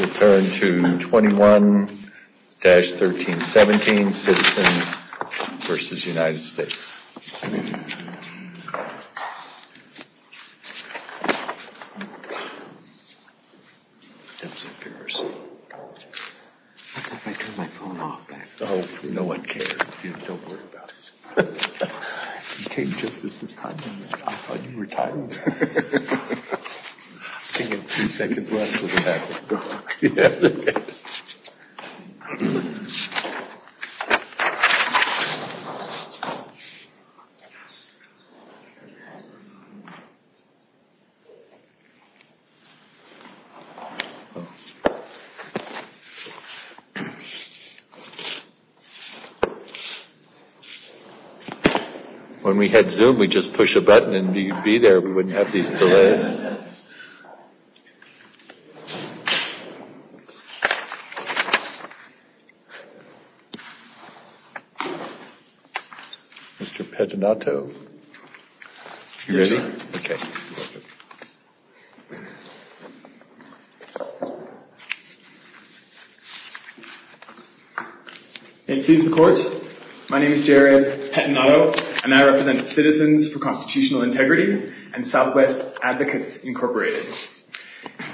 We'll turn to 21-1317, Citizens v. United States. When we had Zoom, we'd just push a button and you'd be there. We wouldn't have these delays. Mr. Pettinato, are you ready? Okay. May it please the Court, my name is Jared Pettinato, and I represent Citizens for Constitutional Integrity and Southwest Advocates Incorporated.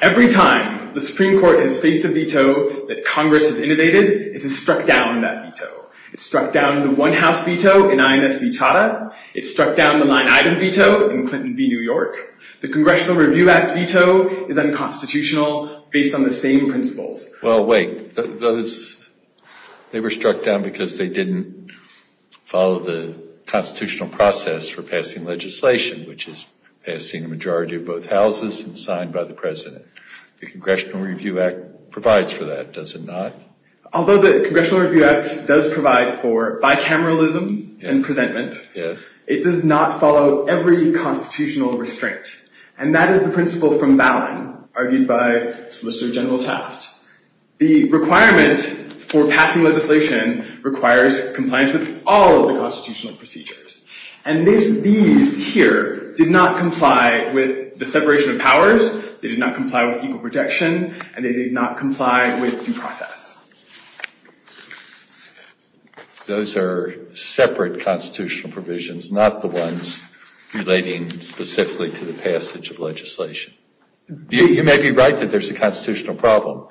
Every time the Supreme Court has faced a veto that Congress has innovated, it has struck down that veto. It struck down the one-house veto in INS Vitata. It struck down the nine-item veto in Clinton v. New York. The Congressional Review Act veto is unconstitutional based on the same principles. Well, wait. They were struck down because they didn't follow the constitutional process for passing legislation, which is passing a majority of both houses and signed by the President. The Congressional Review Act provides for that, does it not? Although the Congressional Review Act does provide for bicameralism and presentment, it does not follow every constitutional restraint. And that is the principle from Ballin, argued by Solicitor General Taft. The requirement for passing legislation requires compliance with all of the constitutional procedures. And these here did not comply with the separation of powers, they did not comply with equal protection, and they did not comply with due process. Those are separate constitutional provisions, not the ones relating specifically to the passage of legislation. You may be right that there's a constitutional problem,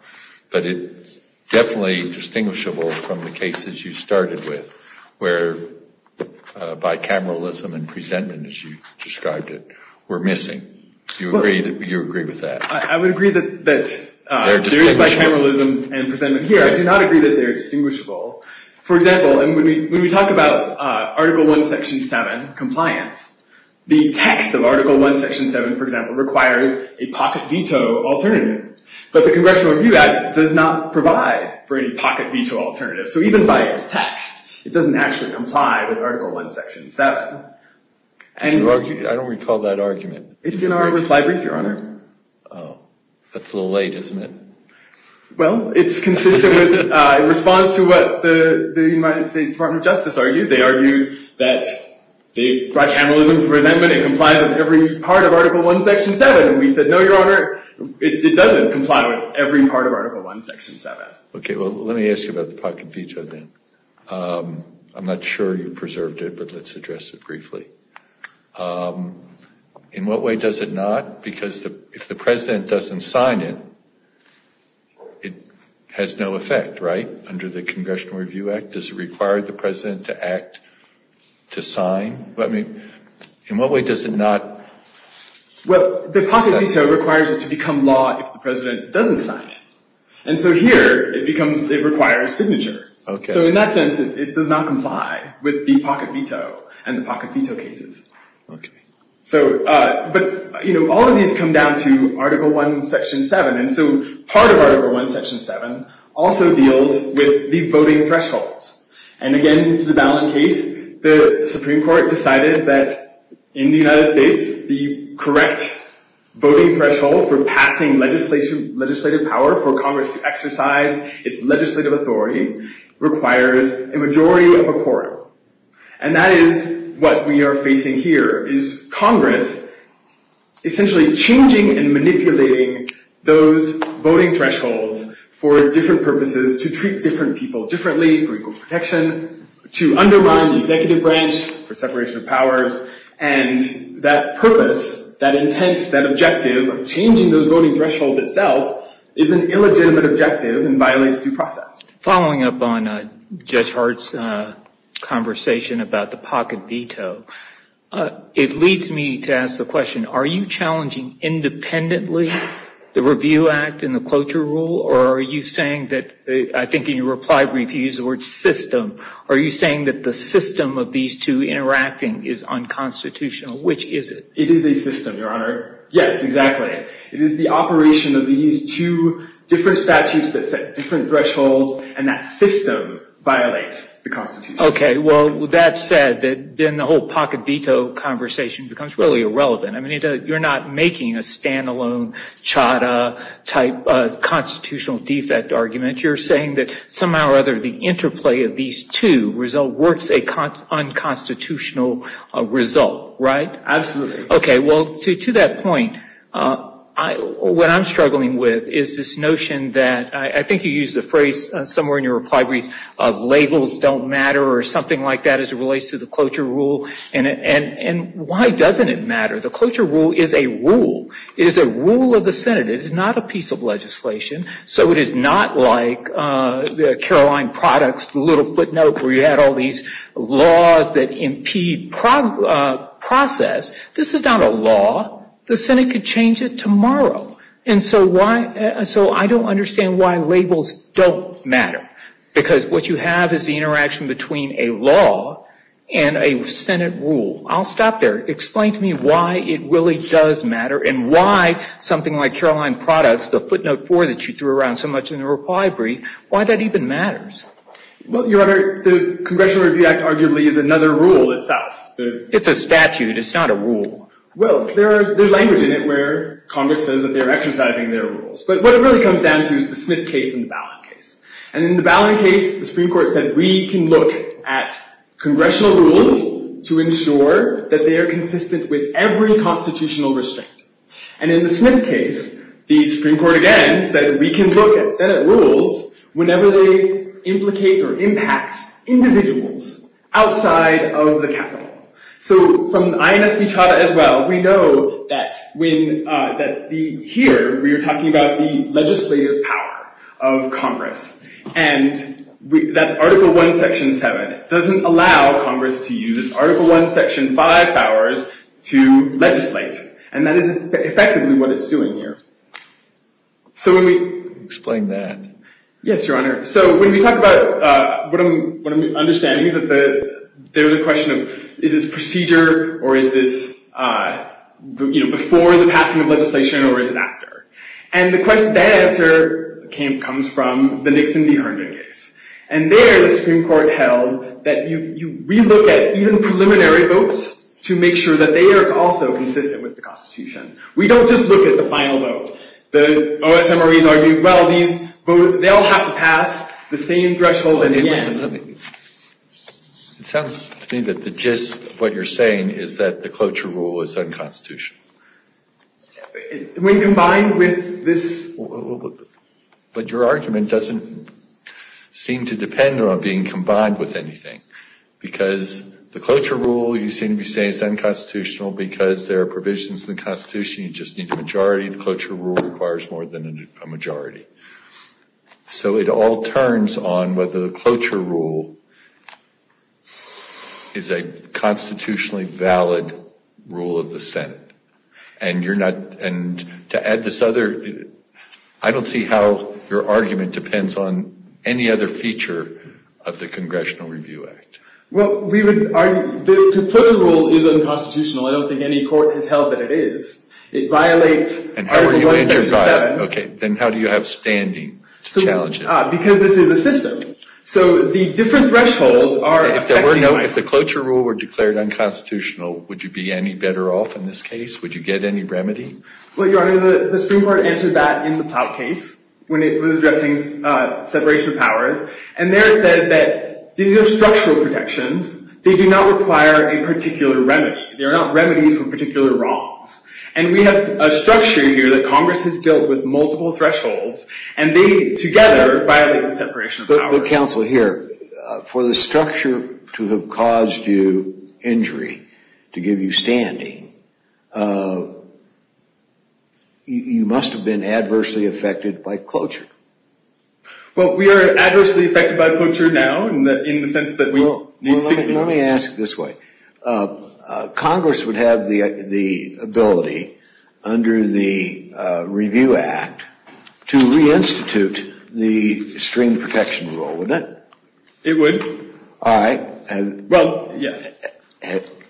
but it's definitely distinguishable from the cases you started with, where bicameralism and presentment, as you described it, were missing. Do you agree with that? I would agree that there is bicameralism and presentment here. I do not agree that they're distinguishable. For example, when we talk about Article I, Section 7 compliance, the text of Article I, Section 7, for example, requires a pocket veto alternative. But the Congressional Review Act does not provide for any pocket veto alternative. So even by its text, it doesn't actually comply with Article I, Section 7. I don't recall that argument. It's in our reply brief, Your Honor. That's a little late, isn't it? Well, it's consistent with response to what the United States Department of Justice argued. They argued that bicameralism, presentment, and compliance with every part of Article I, Section 7. And we said, no, Your Honor, it doesn't comply with every part of Article I, Section 7. Okay, well, let me ask you about the pocket veto then. I'm not sure you preserved it, but let's address it briefly. In what way does it not? Because if the President doesn't sign it, it has no effect, right? Under the Congressional Review Act, does it require the President to act to sign? In what way does it not? Well, the pocket veto requires it to become law if the President doesn't sign it. And so here, it requires signature. So in that sense, it does not comply with the pocket veto and the pocket veto cases. But all of these come down to Article I, Section 7. And so part of Article I, Section 7 also deals with the voting thresholds. And again, to the ballot case, the Supreme Court decided that in the United States, the correct voting threshold for passing legislative power for Congress to exercise its legislative authority requires a majority of a quorum. And that is what we are facing here, is Congress essentially changing and manipulating those voting thresholds for different purposes to treat different people differently, for equal protection, to undermine the executive branch, for separation of powers. And that purpose, that intent, that objective of changing those voting thresholds itself is an illegitimate objective and violates due process. Following up on Judge Hart's conversation about the pocket veto, it leads me to ask the question, are you challenging independently the Review Act and the cloture rule? Or are you saying that, I think in your reply brief, you used the word system. Are you saying that the system of these two interacting is unconstitutional? Which is it? It is a system, Your Honor. Yes, exactly. It is the operation of these two different statutes that set different thresholds, and that system violates the Constitution. Okay. Well, that said, then the whole pocket veto conversation becomes really irrelevant. I mean, you're not making a stand-alone, chada-type constitutional defect argument. You're saying that somehow or other, the interplay of these two works a unconstitutional result, right? Absolutely. Okay. Well, to that point, what I'm struggling with is this notion that, I think you used the phrase somewhere in your reply brief of labels don't matter or something like that as it relates to the cloture rule. And why doesn't it matter? The cloture rule is a rule. It is a rule of the Senate. It is not a piece of legislation. So it is not like the Caroline products, the little footnote where you had all these laws that impede process. This is not a law. The Senate could change it tomorrow. And so I don't understand why labels don't matter, because what you have is the interaction between a law and a Senate rule. I'll stop there. Explain to me why it really does matter and why something like Caroline products, the footnote four that you threw around so much in the reply brief, why that even matters. Well, Your Honor, the Congressional Review Act arguably is another rule itself. It's a statute. It's not a rule. Well, there's language in it where Congress says that they're exercising their rules. But what it really comes down to is the Smith case and the Ballin case. And in the Ballin case, the Supreme Court said, we can look at congressional rules to ensure that they are consistent with every constitutional restraint. And in the Smith case, the Supreme Court again said, we can look at Senate rules whenever they implicate or impact individuals outside of the capital. So from the INSB charter as well, we know that here we are talking about the legislative power of Congress. And that's Article I, Section 7. It doesn't allow Congress to use Article I, Section 5 powers to legislate. And that is effectively what it's doing here. Explain that. Yes, Your Honor. So when we talk about what I'm understanding is that there's a question of, is this procedure, or is this before the passing of legislation, or is it after? And that answer comes from the Nixon v. Herndon case. And there, the Supreme Court held that you re-look at even preliminary votes to make sure that they are also consistent with the Constitution. We don't just look at the final vote. The OSMREs argued, well, they all have to pass the same threshold at the end. It sounds to me that the gist of what you're saying is that the cloture rule is unconstitutional. When combined with this... But your argument doesn't seem to depend on being combined with anything. Because the cloture rule you seem to be saying is unconstitutional because there are provisions in the Constitution you just need a majority. The cloture rule requires more than a majority. So it all turns on whether the cloture rule is a constitutionally valid rule of the Senate. I don't see how your argument depends on any other feature of the Congressional Review Act. Well, the cloture rule is unconstitutional. I don't think any court has held that it is. Then how do you have standing to challenge it? Because this is a system. If the cloture rule were declared unconstitutional, would you be any better off in this case? Would you get any remedy? Well, Your Honor, the Supreme Court answered that in the Ploutt case when it was addressing separation of powers. And there it said that these are structural protections. They do not require a particular remedy. They are not remedies for particular wrongs. And we have a structure here that Congress has built with multiple thresholds. And they, together, violate the separation of powers. But, Counsel, here, for the structure to have caused you injury, to give you standing, you must have been adversely affected by cloture. Well, we are adversely affected by cloture now in the sense that we need... Let me ask it this way. Congress would have the ability, under the Review Act, to reinstitute the String Protection Rule, wouldn't it? It would. All right. Well, yes.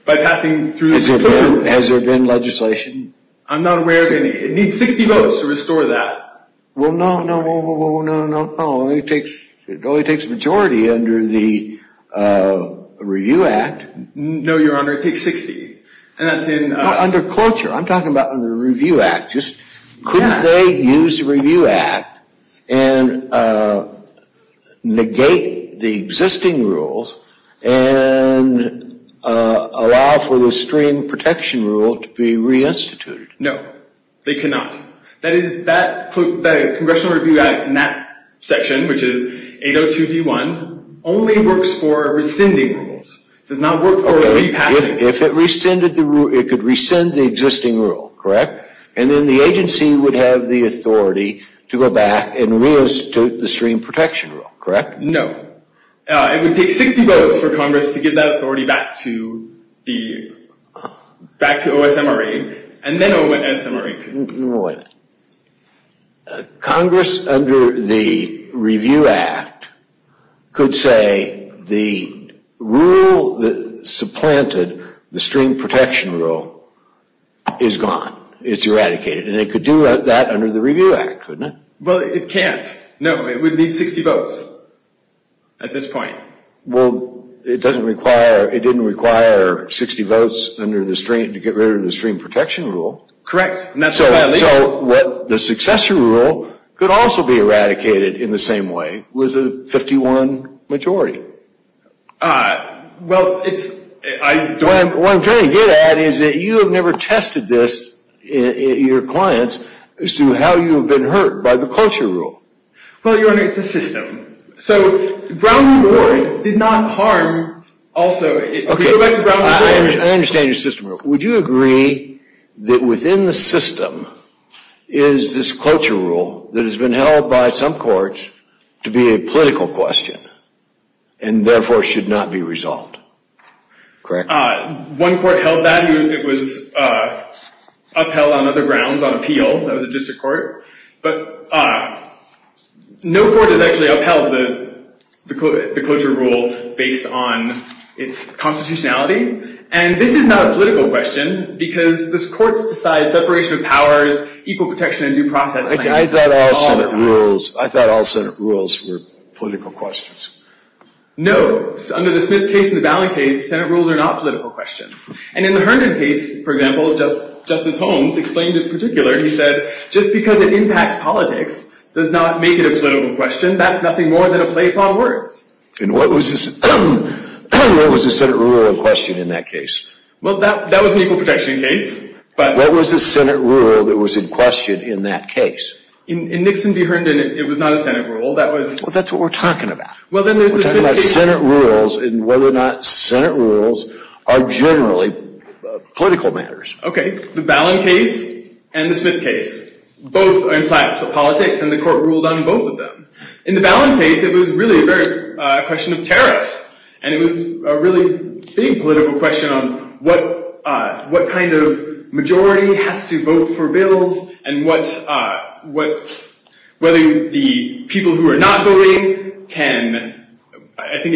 By passing through the Supreme Court. Has there been legislation? I'm not aware of any. It needs 60 votes to restore that. Well, no, no, no, no. It only takes a majority under the Review Act. No, Your Honor. It takes 60. Under cloture. I'm talking about under the Review Act. Couldn't they use the Review Act and negate the existing rules and allow for the String Protection Rule to be reinstituted? No. They cannot. That is, the Congressional Review Act in that section, which is 802.d.1, only works for rescinding rules. It does not work for repassing. If it rescinded the existing rule, correct? And then the agency would have the authority to go back and reinstitute the String Protection Rule, correct? No. It would take 60 votes for Congress to give that authority back to OSMRA and then OSMRA. Wait a minute. Congress, under the Review Act, could say the rule that supplanted the String Protection Rule is gone. It's eradicated. And it could do that under the Review Act, couldn't it? Well, it can't. No, it would need 60 votes at this point. Well, it didn't require 60 votes to get rid of the String Protection Rule. Correct. So the successor rule could also be eradicated in the same way with a 51 majority. Well, it's – What I'm trying to get at is that you have never tested this, your clients, as to how you have been hurt by the culture rule. Well, Your Honor, it's a system. So Brown v. Ward did not harm – Okay, I understand your system rule. Would you agree that within the system is this culture rule that has been held by some courts to be a political question and therefore should not be resolved? Correct. One court held that. It was upheld on other grounds, on appeal. That was a district court. But no court has actually upheld the culture rule based on its constitutionality. And this is not a political question because the courts decide separation of powers, equal protection and due process. I thought all Senate rules were political questions. No. Under the Smith case and the Ballin case, Senate rules are not political questions. And in the Herndon case, for example, Justice Holmes explained in particular, he said, just because it impacts politics does not make it a political question. That's nothing more than a play upon words. And what was the Senate rule in question in that case? Well, that was an equal protection case. What was the Senate rule that was in question in that case? In Nixon v. Herndon, it was not a Senate rule. Well, that's what we're talking about. We're talking about Senate rules and whether or not Senate rules are generally political matters. Okay. The Ballin case and the Smith case both impact politics, and the court ruled on both of them. In the Ballin case, it was really a question of tariffs. And it was a really big political question on what kind of majority has to vote for bills and whether the people who are not voting can— I think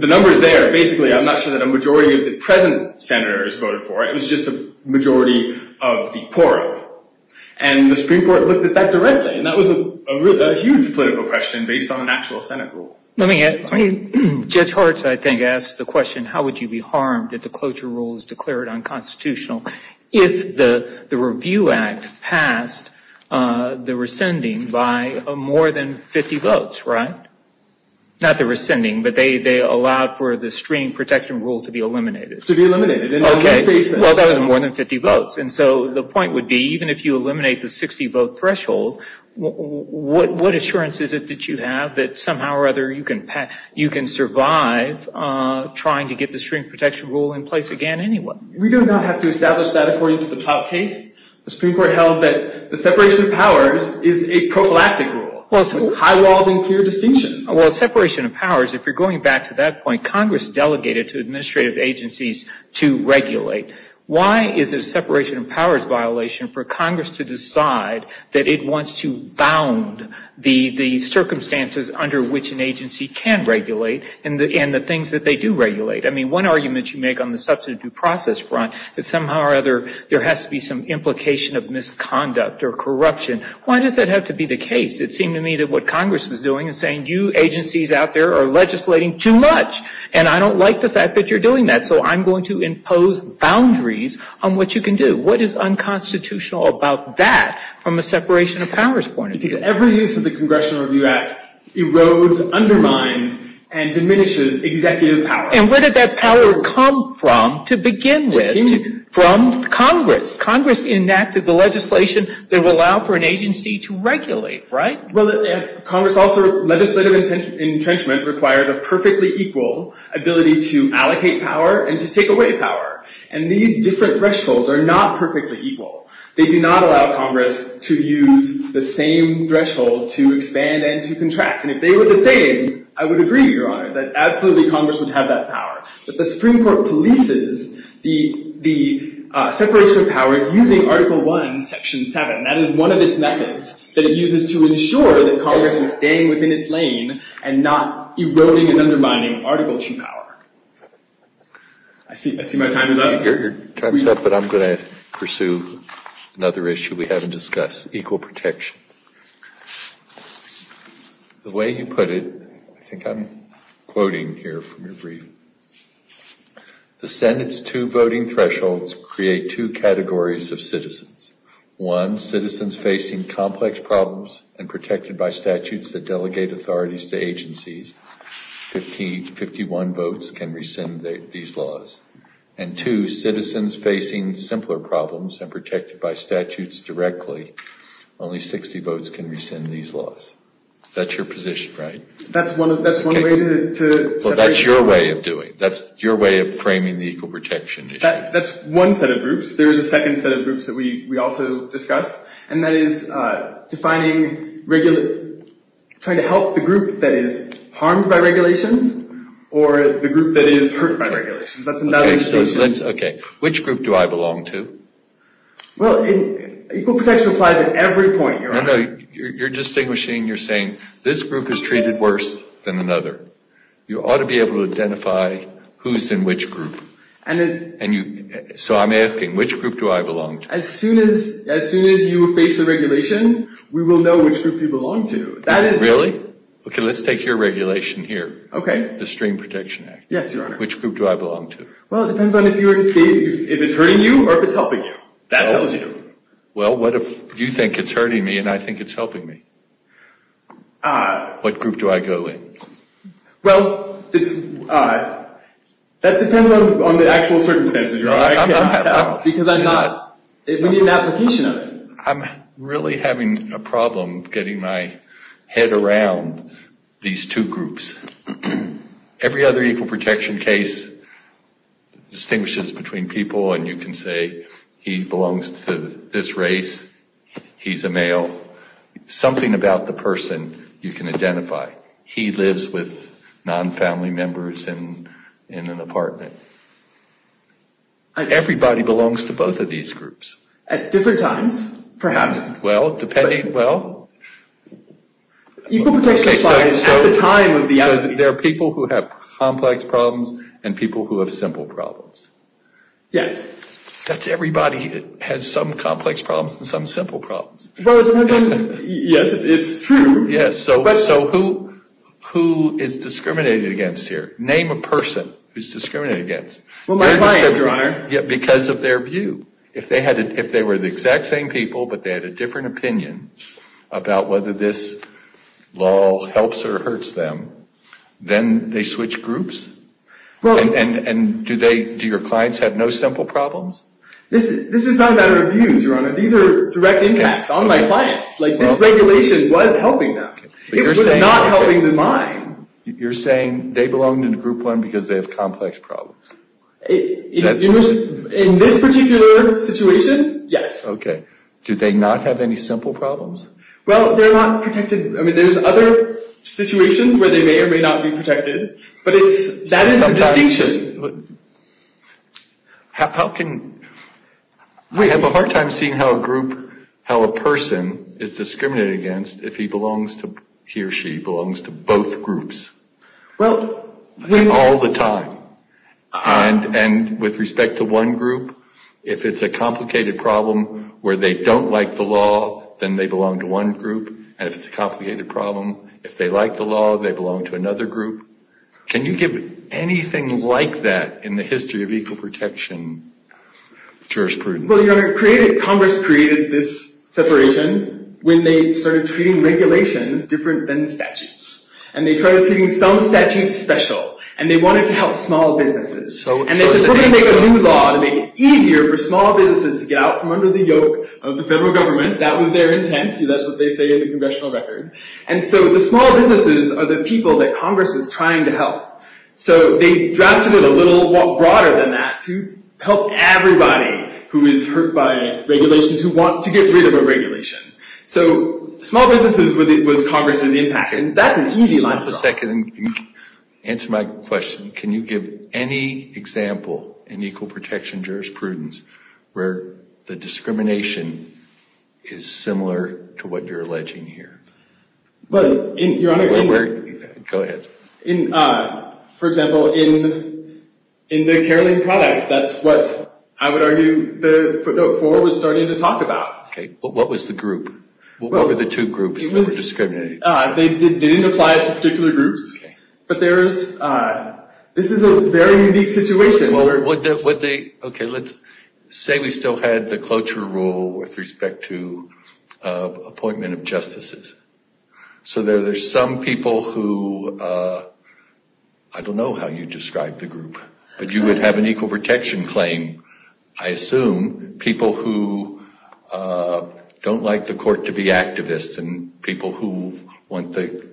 the numbers there, basically, I'm not sure that a majority of the present senators voted for. It was just a majority of the court. And the Supreme Court looked at that directly. And that was a huge political question based on an actual Senate rule. I mean, Judge Hart, I think, asked the question, how would you be harmed if the cloture rule is declared unconstitutional if the Review Act passed the rescinding by more than 50 votes, right? Not the rescinding, but they allowed for the stream protection rule to be eliminated. To be eliminated. Okay. Well, that was more than 50 votes. And so the point would be, even if you eliminate the 60-vote threshold, what assurance is it that you have that somehow or other you can survive trying to get the stream protection rule in place again anyway? We do not have to establish that according to the top case. The Supreme Court held that the separation of powers is a prophylactic rule, high walls and clear distinction. Well, separation of powers, if you're going back to that point, Congress delegated to administrative agencies to regulate. Why is it a separation of powers violation for Congress to decide that it wants to bound the circumstances under which an agency can regulate and the things that they do regulate? I mean, one argument you make on the substantive due process front is somehow or other there has to be some implication of misconduct or corruption. Why does that have to be the case? It seemed to me that what Congress was doing is saying, you agencies out there are legislating too much, and I don't like the fact that you're doing that, so I'm going to impose boundaries on what you can do. What is unconstitutional about that from a separation of powers point of view? Because every use of the Congressional Review Act erodes, undermines, and diminishes executive power. And where did that power come from to begin with? From Congress. Congress enacted the legislation that will allow for an agency to regulate, right? Well, Congress also, legislative entrenchment requires a perfectly equal ability to allocate power and to take away power. And these different thresholds are not perfectly equal. They do not allow Congress to use the same threshold to expand and to contract. And if they were the same, I would agree, Your Honor, that absolutely Congress would have that power. But the Supreme Court polices the separation of powers using Article I, Section 7. That is one of its methods that it uses to ensure that Congress is staying within its lane and not eroding and undermining Article II power. I see my time is up. Your time is up, but I'm going to pursue another issue we haven't discussed, equal protection. The way you put it, I think I'm quoting here from your brief, the Senate's two voting thresholds create two categories of citizens. One, citizens facing complex problems and protected by statutes that delegate authorities to agencies. Fifty-one votes can rescind these laws. And two, citizens facing simpler problems and protected by statutes directly, only 60 votes can rescind these laws. That's your position, right? That's one way to separate. Well, that's your way of doing it. That's your way of framing the equal protection issue. That's one set of groups. There's a second set of groups that we also discussed, and that is trying to help the group that is harmed by regulations or the group that is hurt by regulations. That's another distinction. Okay. Which group do I belong to? Well, equal protection applies at every point. No, no. You're distinguishing. You're saying this group is treated worse than another. You ought to be able to identify who's in which group. So I'm asking, which group do I belong to? As soon as you face a regulation, we will know which group you belong to. Really? Okay, let's take your regulation here. Okay. The Stream Protection Act. Yes, Your Honor. Which group do I belong to? Well, it depends on if it's hurting you or if it's helping you. That tells you. Well, what if you think it's hurting me and I think it's helping me? What group do I go in? Well, that depends on the actual circumstances, Your Honor. Because I'm not. We need an application of it. I'm really having a problem getting my head around these two groups. Every other equal protection case distinguishes between people, and you can say he belongs to this race, he's a male. Something about the person you can identify. He lives with non-family members in an apartment. Everybody belongs to both of these groups. At different times, perhaps. Well, depending. Well, there are people who have complex problems and people who have simple problems. Yes. That's everybody that has some complex problems and some simple problems. Well, yes, it's true. Yes, so who is discriminated against here? Name a person who's discriminated against. Well, my clients, Your Honor. Because of their view. If they were the exact same people but they had a different opinion about whether this law helps or hurts them, then they switch groups? And do your clients have no simple problems? This is not about our views, Your Honor. These are direct impacts on my clients. This regulation was helping them. It was not helping mine. You're saying they belong in Group 1 because they have complex problems. In this particular situation, yes. Okay. Do they not have any simple problems? Well, they're not protected. I mean, there's other situations where they may or may not be protected, but that is the distinction. How can we have a hard time seeing how a group, how a person is discriminated against if he or she belongs to both groups? All the time. And with respect to one group, if it's a complicated problem where they don't like the law, then they belong to one group. And if it's a complicated problem, if they like the law, they belong to another group. Can you give anything like that in the history of equal protection jurisprudence? Well, Your Honor, Congress created this separation when they started treating regulations different than statutes. And they tried to make some statutes special, and they wanted to help small businesses. And they wanted to make a new law to make it easier for small businesses to get out from under the yoke of the federal government. That was their intent. That's what they say in the congressional record. And so the small businesses are the people that Congress is trying to help. So they drafted it a little broader than that to help everybody who is hurt by regulations, who wants to get rid of a regulation. So small businesses was Congress's impact. And that's an easy line to draw. Answer my question. Can you give any example in equal protection jurisprudence where the discrimination is similar to what you're alleging here? Well, Your Honor, for example, in the Caroline products, that's what I would argue the footnote 4 was starting to talk about. Okay. But what was the group? What were the two groups that were discriminating? They didn't apply it to particular groups. But this is a very unique situation. Okay, let's say we still had the cloture rule with respect to appointment of justices. So there are some people who, I don't know how you describe the group, but you would have an equal protection claim, I assume, people who don't like the court to be activists and people who want the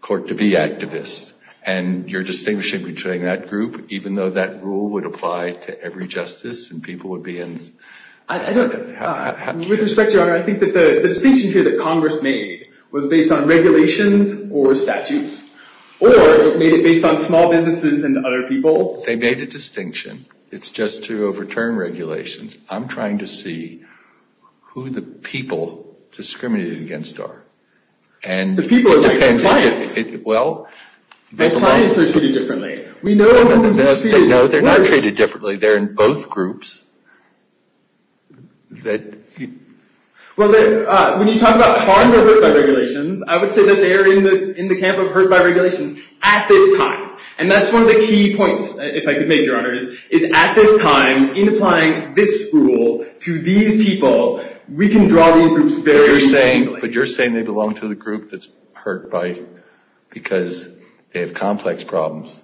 court to be activists. And you're distinguishing between that group, even though that rule would apply to every justice and people would be in? I don't know. With respect, Your Honor, I think that the distinction here that Congress made was based on regulations or statutes or it made it based on small businesses and other people. They made a distinction. It's just to overturn regulations. I'm trying to see who the people discriminated against are. The people are like the clients. Well, the clients are treated differently. No, they're not treated differently. They're in both groups. Well, when you talk about harmed or hurt by regulations, I would say that they are in the camp of hurt by regulations at this time. And that's one of the key points, if I could make, Your Honor, is at this time, in applying this rule to these people, we can draw these groups very easily. But you're saying they belong to the group that's hurt by because they have complex problems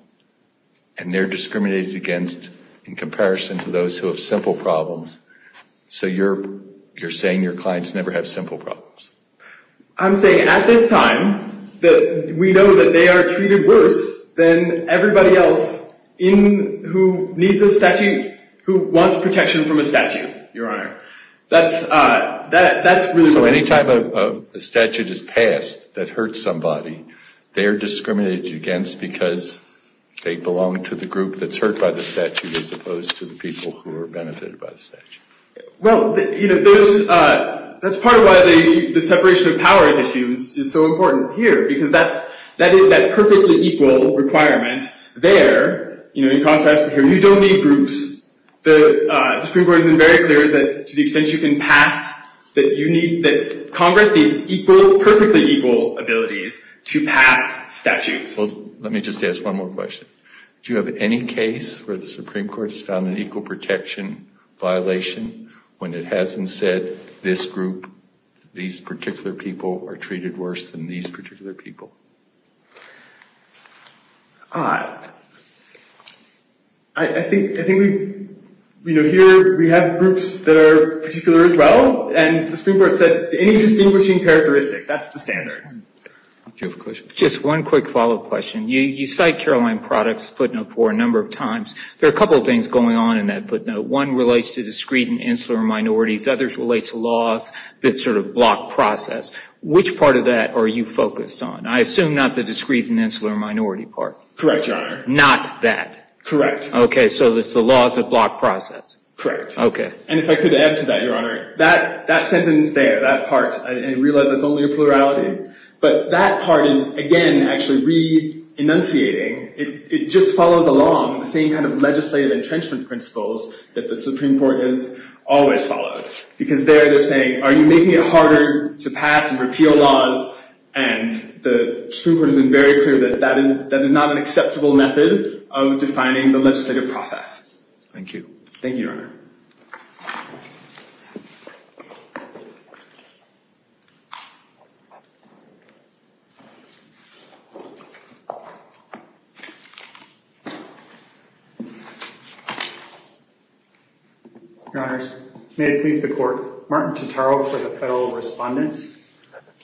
and they're discriminated against in comparison to those who have simple problems. So you're saying your clients never have simple problems. I'm saying at this time that we know that they are treated worse than everybody else who needs a statute, who wants protection from a statute, Your Honor. So any time a statute is passed that hurts somebody, they're discriminated against because they belong to the group that's hurt by the statute as opposed to the people who are benefited by the statute. Well, that's part of why the separation of powers issue is so important here because that is that perfectly equal requirement there. In contrast to here, you don't need groups. The Supreme Court has been very clear that to the extent you can pass, that Congress needs perfectly equal abilities to pass statutes. Well, let me just ask one more question. Do you have any case where the Supreme Court has found an equal protection violation when it hasn't said this group, these particular people, are treated worse than these particular people? I think here we have groups that are particular as well, and the Supreme Court said any distinguishing characteristic, that's the standard. Do you have a question? Just one quick follow-up question. You cite Caroline Products' footnote for a number of times. There are a couple of things going on in that footnote. One relates to discreet and insular minorities. Others relates to laws that sort of block process. Which part of that are you focused on? I assume not the discreet and insular minority part. Correct, Your Honor. Not that. Correct. Okay, so it's the laws that block process. Correct. Okay. And if I could add to that, Your Honor, that sentence there, that part, I realize that's only a plurality. But that part is, again, actually re-enunciating. It just follows along the same kind of legislative entrenchment principles that the Supreme Court has always followed. Because there they're saying, are you making it harder to pass and repeal laws? And the Supreme Court has been very clear that that is not an acceptable method of defining the legislative process. Thank you. Thank you, Your Honor. Your Honors, may it please the Court, Martin Totaro for the Federal Respondents.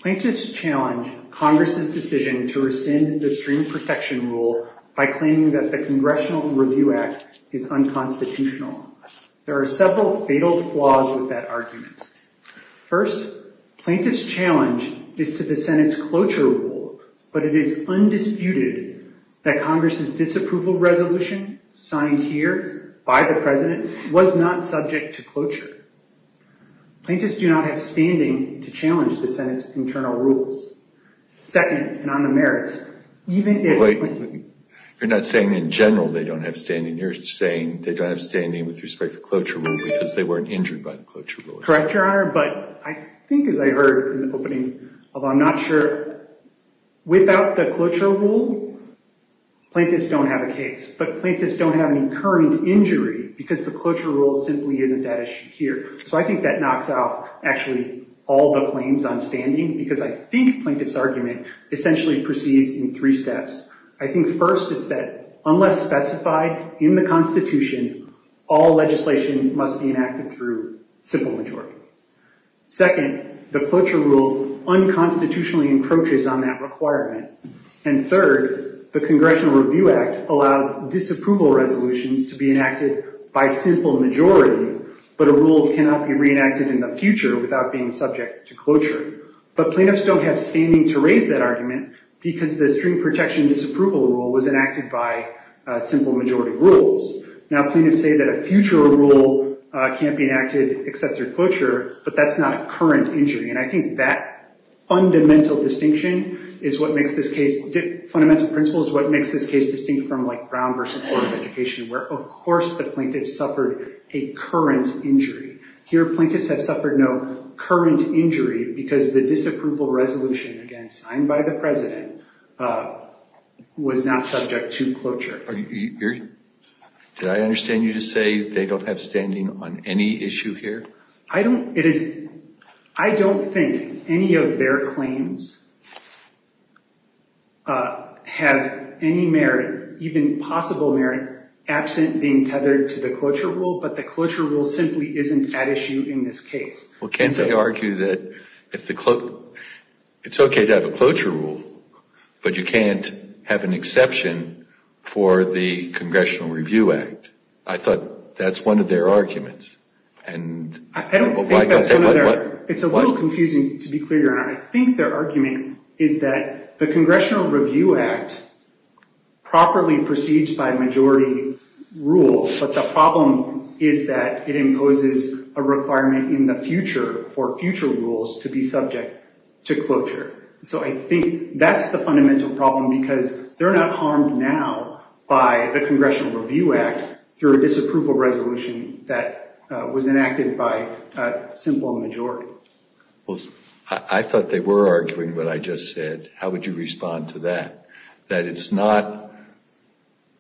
Plaintiffs challenge Congress' decision to rescind the stream protection rule by claiming that the Congressional Review Act is unconstitutional. There are several fatal flaws with that argument. First, plaintiff's challenge is to the Senate's cloture rule, but it is undisputed that Congress' disapproval resolution, signed here by the President, was not subject to cloture. Plaintiffs do not have standing to challenge the Senate's internal rules. Second, and on the merits, even if- Wait, you're not saying in general they don't have standing. You're saying they don't have standing with respect to cloture rule because they weren't injured by the cloture rule. Correct, Your Honor. But I think as I heard in the opening, although I'm not sure, without the cloture rule, plaintiffs don't have a case. But plaintiffs don't have any current injury because the cloture rule simply isn't that issue here. So I think that knocks off actually all the claims on standing because I think plaintiff's argument essentially proceeds in three steps. I think first is that unless specified in the Constitution, all legislation must be enacted through simple majority. Second, the cloture rule unconstitutionally encroaches on that requirement. And third, the Congressional Review Act allows disapproval resolutions to be enacted by simple majority, but a rule cannot be reenacted in the future without being subject to cloture. But plaintiffs don't have standing to raise that argument because the string protection disapproval rule was enacted by simple majority rules. Now plaintiffs say that a future rule can't be enacted except through cloture, but that's not a current injury. And I think that fundamental distinction is what makes this case, fundamental principle is what makes this case distinct from like Brown v. Board of Education where of course the plaintiff suffered a current injury. Here plaintiffs have suffered no current injury because the disapproval resolution, again, signed by the president, was not subject to cloture. Did I understand you to say they don't have standing on any issue here? I don't think any of their claims have any merit, even possible merit, absent being tethered to the cloture rule, but the cloture rule simply isn't at issue in this case. Well can't they argue that it's okay to have a cloture rule, but you can't have an exception for the Congressional Review Act? I thought that's one of their arguments. I don't think that's one of their, it's a little confusing to be clear here. I think their argument is that the Congressional Review Act properly proceeds by majority rules, but the problem is that it imposes a requirement in the future for future rules to be subject to cloture. So I think that's the fundamental problem because they're not harmed now by the Congressional Review Act through a disapproval resolution that was enacted by a simple majority. I thought they were arguing what I just said. How would you respond to that? That it's not,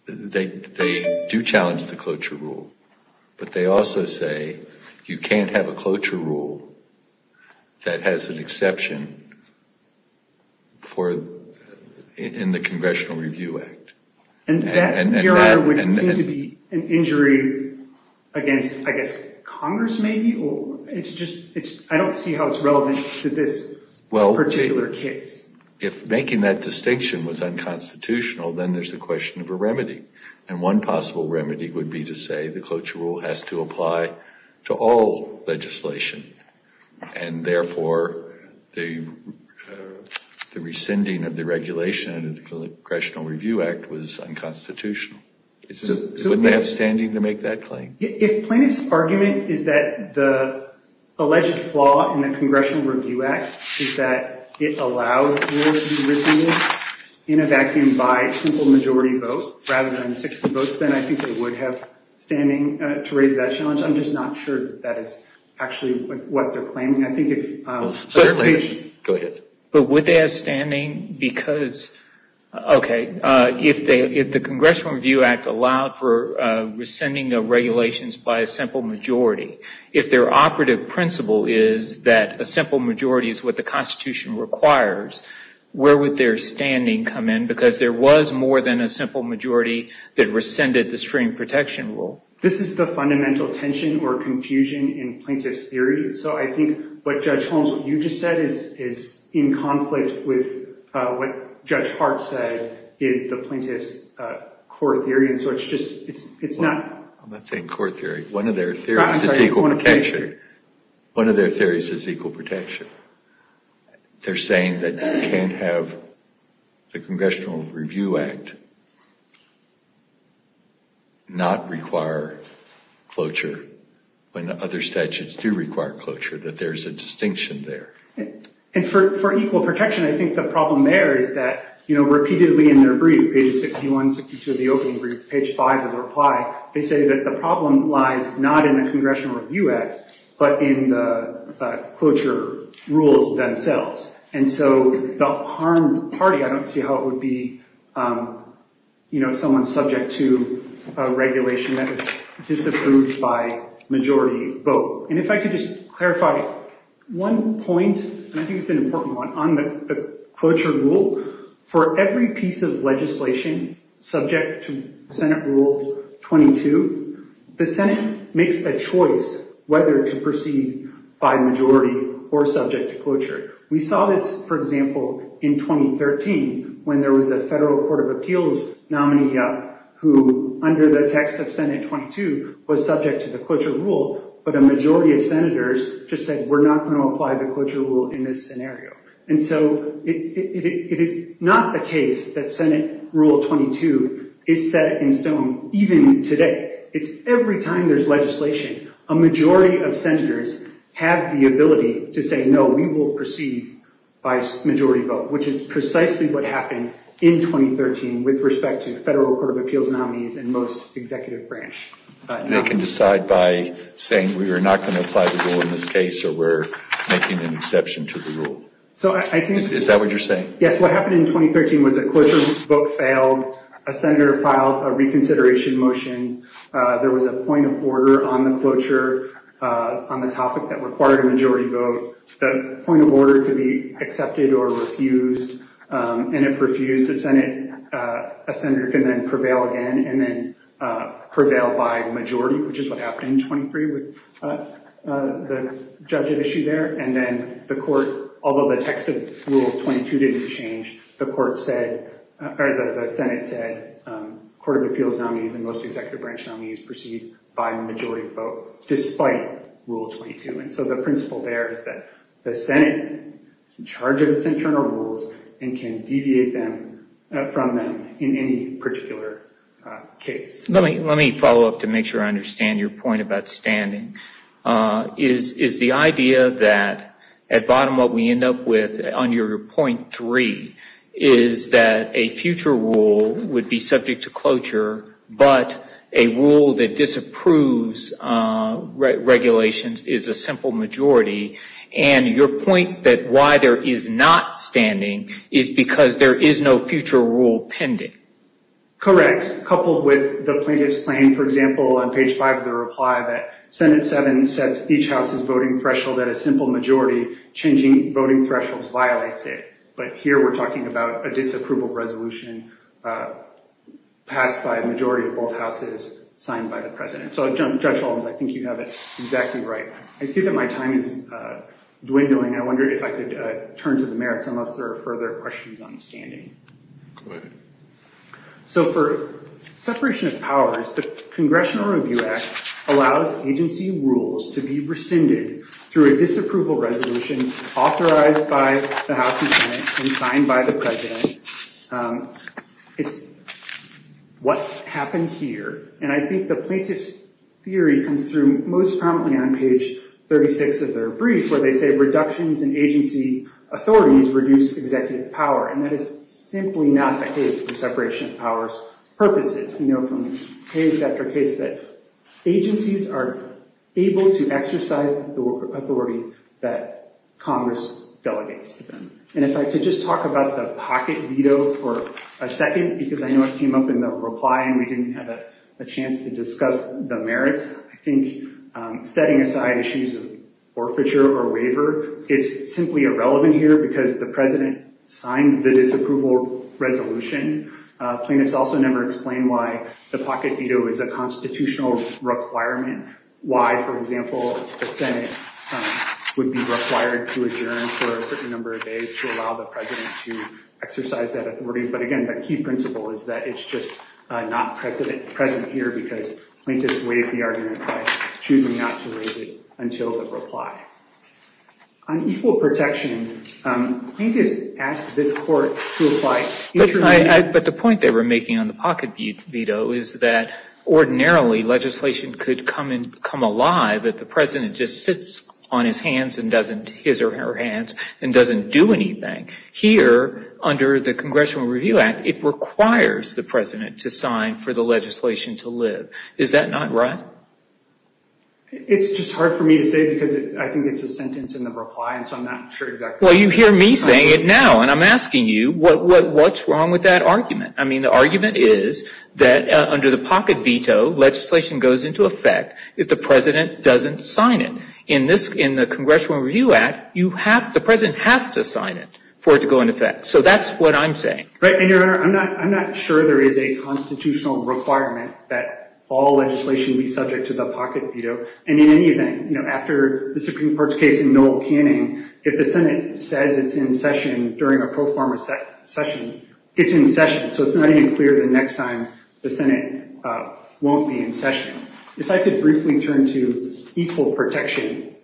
they do challenge the cloture rule, but they also say you can't have a cloture rule that has an exception in the Congressional Review Act. And that would seem to be an injury against, I guess, Congress maybe? I don't see how it's relevant to this particular case. If making that distinction was unconstitutional, then there's a question of a remedy, and one possible remedy would be to say the cloture rule has to apply to all legislation, and therefore the rescinding of the regulation under the Congressional Review Act was unconstitutional. Wouldn't they have standing to make that claim? If Plaintiff's argument is that the alleged flaw in the Congressional Review Act is that it allowed rules to be rescinded in a vacuum by a simple majority vote rather than 60 votes, then I think they would have standing to raise that challenge. I'm just not sure that that is actually what they're claiming. I think if… Go ahead. But would they have standing because… Okay. If the Congressional Review Act allowed for rescinding of regulations by a simple majority, if their operative principle is that a simple majority is what the Constitution requires, where would their standing come in? Because there was more than a simple majority that rescinded the stream protection rule. This is the fundamental tension or confusion in Plaintiff's theory. So I think what Judge Holmes, what you just said, is in conflict with what Judge Hart said is the Plaintiff's core theory, and so it's just, it's not… I'm not saying core theory. One of their theories is equal protection. One of their theories is equal protection. They're saying that you can't have the Congressional Review Act not require cloture when other statutes do require cloture, that there's a distinction there. And for equal protection, I think the problem there is that, you know, repeatedly in their brief, pages 61 to the opening brief, page 5 of the reply, they say that the problem lies not in the Congressional Review Act, but in the cloture rules themselves. And so the harmed party, I don't see how it would be, you know, someone subject to a regulation that is disapproved by majority vote. And if I could just clarify one point, and I think it's an important one, on the cloture rule, for every piece of legislation subject to Senate Rule 22, the Senate makes a choice whether to proceed by majority or subject to cloture. We saw this, for example, in 2013, when there was a federal court of appeals nominee who, under the text of Senate 22, was subject to the cloture rule, but a majority of senators just said, we're not going to apply the cloture rule in this scenario. And so it is not the case that Senate Rule 22 is set in stone, even today. It's every time there's legislation, a majority of senators have the ability to say, no, we will proceed by majority vote, which is precisely what happened in 2013 with respect to federal court of appeals nominees and most executive branch. They can decide by saying we are not going to apply the rule in this case or we're making an exception to the rule. Is that what you're saying? Yes, what happened in 2013 was a cloture vote failed, a senator filed a reconsideration motion, there was a point of order on the cloture on the topic that required a majority vote. The point of order could be accepted or refused. And if refused, a senator can then prevail again and then prevail by majority, which is what happened in 2013 with the judge at issue there. And then the court, although the text of Rule 22 didn't change, the Senate said court of appeals nominees and most executive branch nominees proceed by majority vote despite Rule 22. And so the principle there is that the Senate is in charge of its internal rules and can deviate from them in any particular case. Let me follow up to make sure I understand your point about standing. Is the idea that at bottom what we end up with on your point three is that a future rule would be subject to cloture, but a rule that disapproves regulations is a simple majority. And your point that why there is not standing is because there is no future rule pending. Correct, coupled with the plaintiff's claim, for example, on page five of the reply that Senate 7 sets each house's voting threshold at a simple majority, changing voting thresholds violates it. But here we're talking about a disapproval resolution passed by a majority of both houses signed by the president. So, Judge Holmes, I think you have it exactly right. I see that my time is dwindling. I wonder if I could turn to the merits unless there are further questions on standing. Go ahead. So for separation of powers, the Congressional Review Act allows agency rules to be rescinded through a disapproval resolution authorized by the House and Senate and signed by the president. It's what happened here. And I think the plaintiff's theory comes through most prominently on page 36 of their brief where they say reductions in agency authorities reduce executive power. And that is simply not the case for separation of powers purposes. We know from case after case that agencies are able to exercise the authority that Congress delegates to them. And if I could just talk about the pocket veto for a second because I know it came up in the reply and we didn't have a chance to discuss the merits. It's simply irrelevant here because the president signed the disapproval resolution. Plaintiffs also never explained why the pocket veto is a constitutional requirement. Why, for example, the Senate would be required to adjourn for a certain number of days to allow the president to exercise that authority. But again, the key principle is that it's just not present here because plaintiffs waived the argument by choosing not to raise it until the reply. On equal protection, plaintiffs asked this court to apply interim veto. But the point they were making on the pocket veto is that ordinarily legislation could come alive if the president just sits on his or her hands and doesn't do anything. Here, under the Congressional Review Act, it requires the president to sign for the legislation to live. Is that not right? It's just hard for me to say because I think it's a sentence in the reply and so I'm not sure exactly. Well, you hear me saying it now and I'm asking you, what's wrong with that argument? I mean, the argument is that under the pocket veto, legislation goes into effect if the president doesn't sign it. In the Congressional Review Act, the president has to sign it for it to go into effect. So that's what I'm saying. Right, and, Your Honor, I'm not sure there is a constitutional requirement that all legislation be subject to the pocket veto. And in any event, after the Supreme Court's case in Millel-Canning, if the Senate says it's in session during a pro forma session, it's in session. So it's not even clear the next time the Senate won't be in session. If I could briefly turn to equal protection.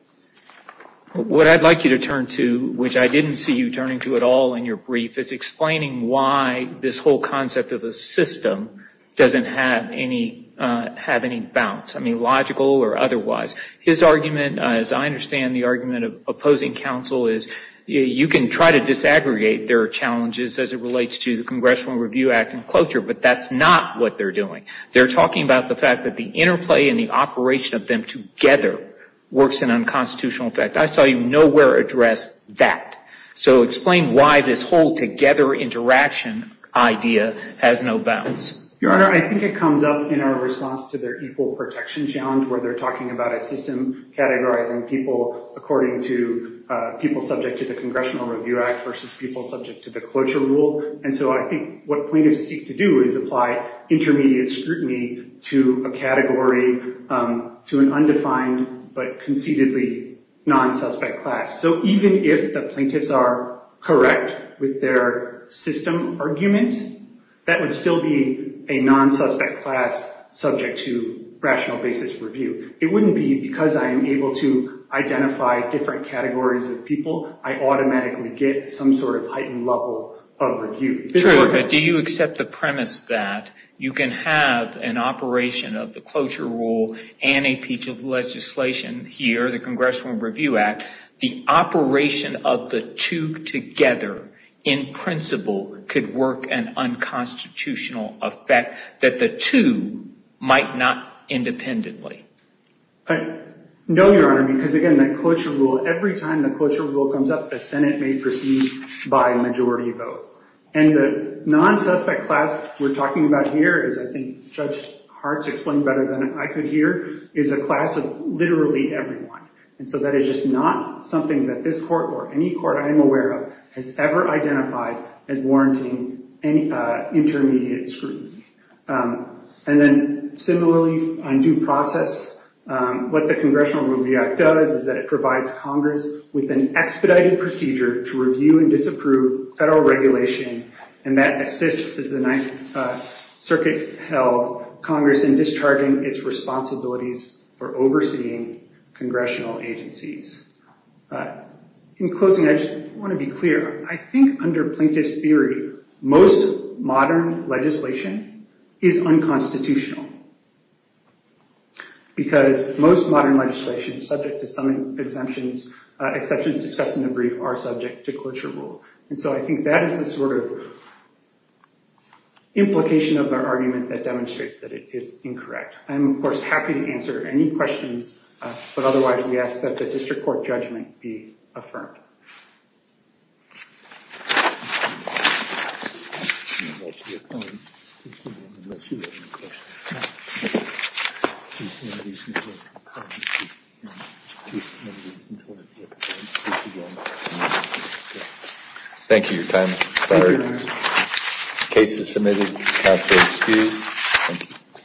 What I'd like you to turn to, which I didn't see you turning to at all in your brief, is explaining why this whole concept of a system doesn't have any bounds, I mean, logical or otherwise. His argument, as I understand the argument of opposing counsel, is you can try to disaggregate their challenges as it relates to the Congressional Review Act and cloture, but that's not what they're doing. They're talking about the fact that the interplay and the operation of them together works in unconstitutional effect. I saw you nowhere address that. So explain why this whole together interaction idea has no bounds. Your Honor, I think it comes up in our response to their equal protection challenge where they're talking about a system categorizing people according to people subject to the Congressional Review Act versus people subject to the cloture rule. And so I think what plaintiffs seek to do is apply intermediate scrutiny to a category, to an undefined but conceitedly non-suspect class. So even if the plaintiffs are correct with their system argument, that would still be a non-suspect class subject to rational basis review. It wouldn't be because I'm able to identify different categories of people, I automatically get some sort of heightened level of review. Do you accept the premise that you can have an operation of the cloture rule and a piece of legislation here, the Congressional Review Act, the operation of the two together in principle could work an unconstitutional effect that the two might not independently? No, Your Honor, because, again, that cloture rule, every time the cloture rule comes up, the Senate may proceed by majority vote. And the non-suspect class we're talking about here, as I think Judge Hart's explained better than I could here, is a class of literally everyone. And so that is just not something that this court or any court I am aware of has ever identified as warranting any intermediate scrutiny. And then, similarly, on due process, what the Congressional Review Act does is that it provides Congress with an expedited procedure to review and disapprove federal regulation and that assists, as the Ninth Circuit held, Congress in discharging its responsibilities for overseeing congressional agencies. In closing, I just want to be clear. I think under Plaintiff's theory, most modern legislation is unconstitutional because most modern legislation, subject to some exceptions discussed in the brief, are subject to cloture rule. And so I think that is the sort of implication of our argument that demonstrates that it is incorrect. I am, of course, happy to answer any questions, but otherwise we ask that the district court judgment be affirmed. Thank you. Thank you. Your time has expired. Case is submitted. Counsel excused.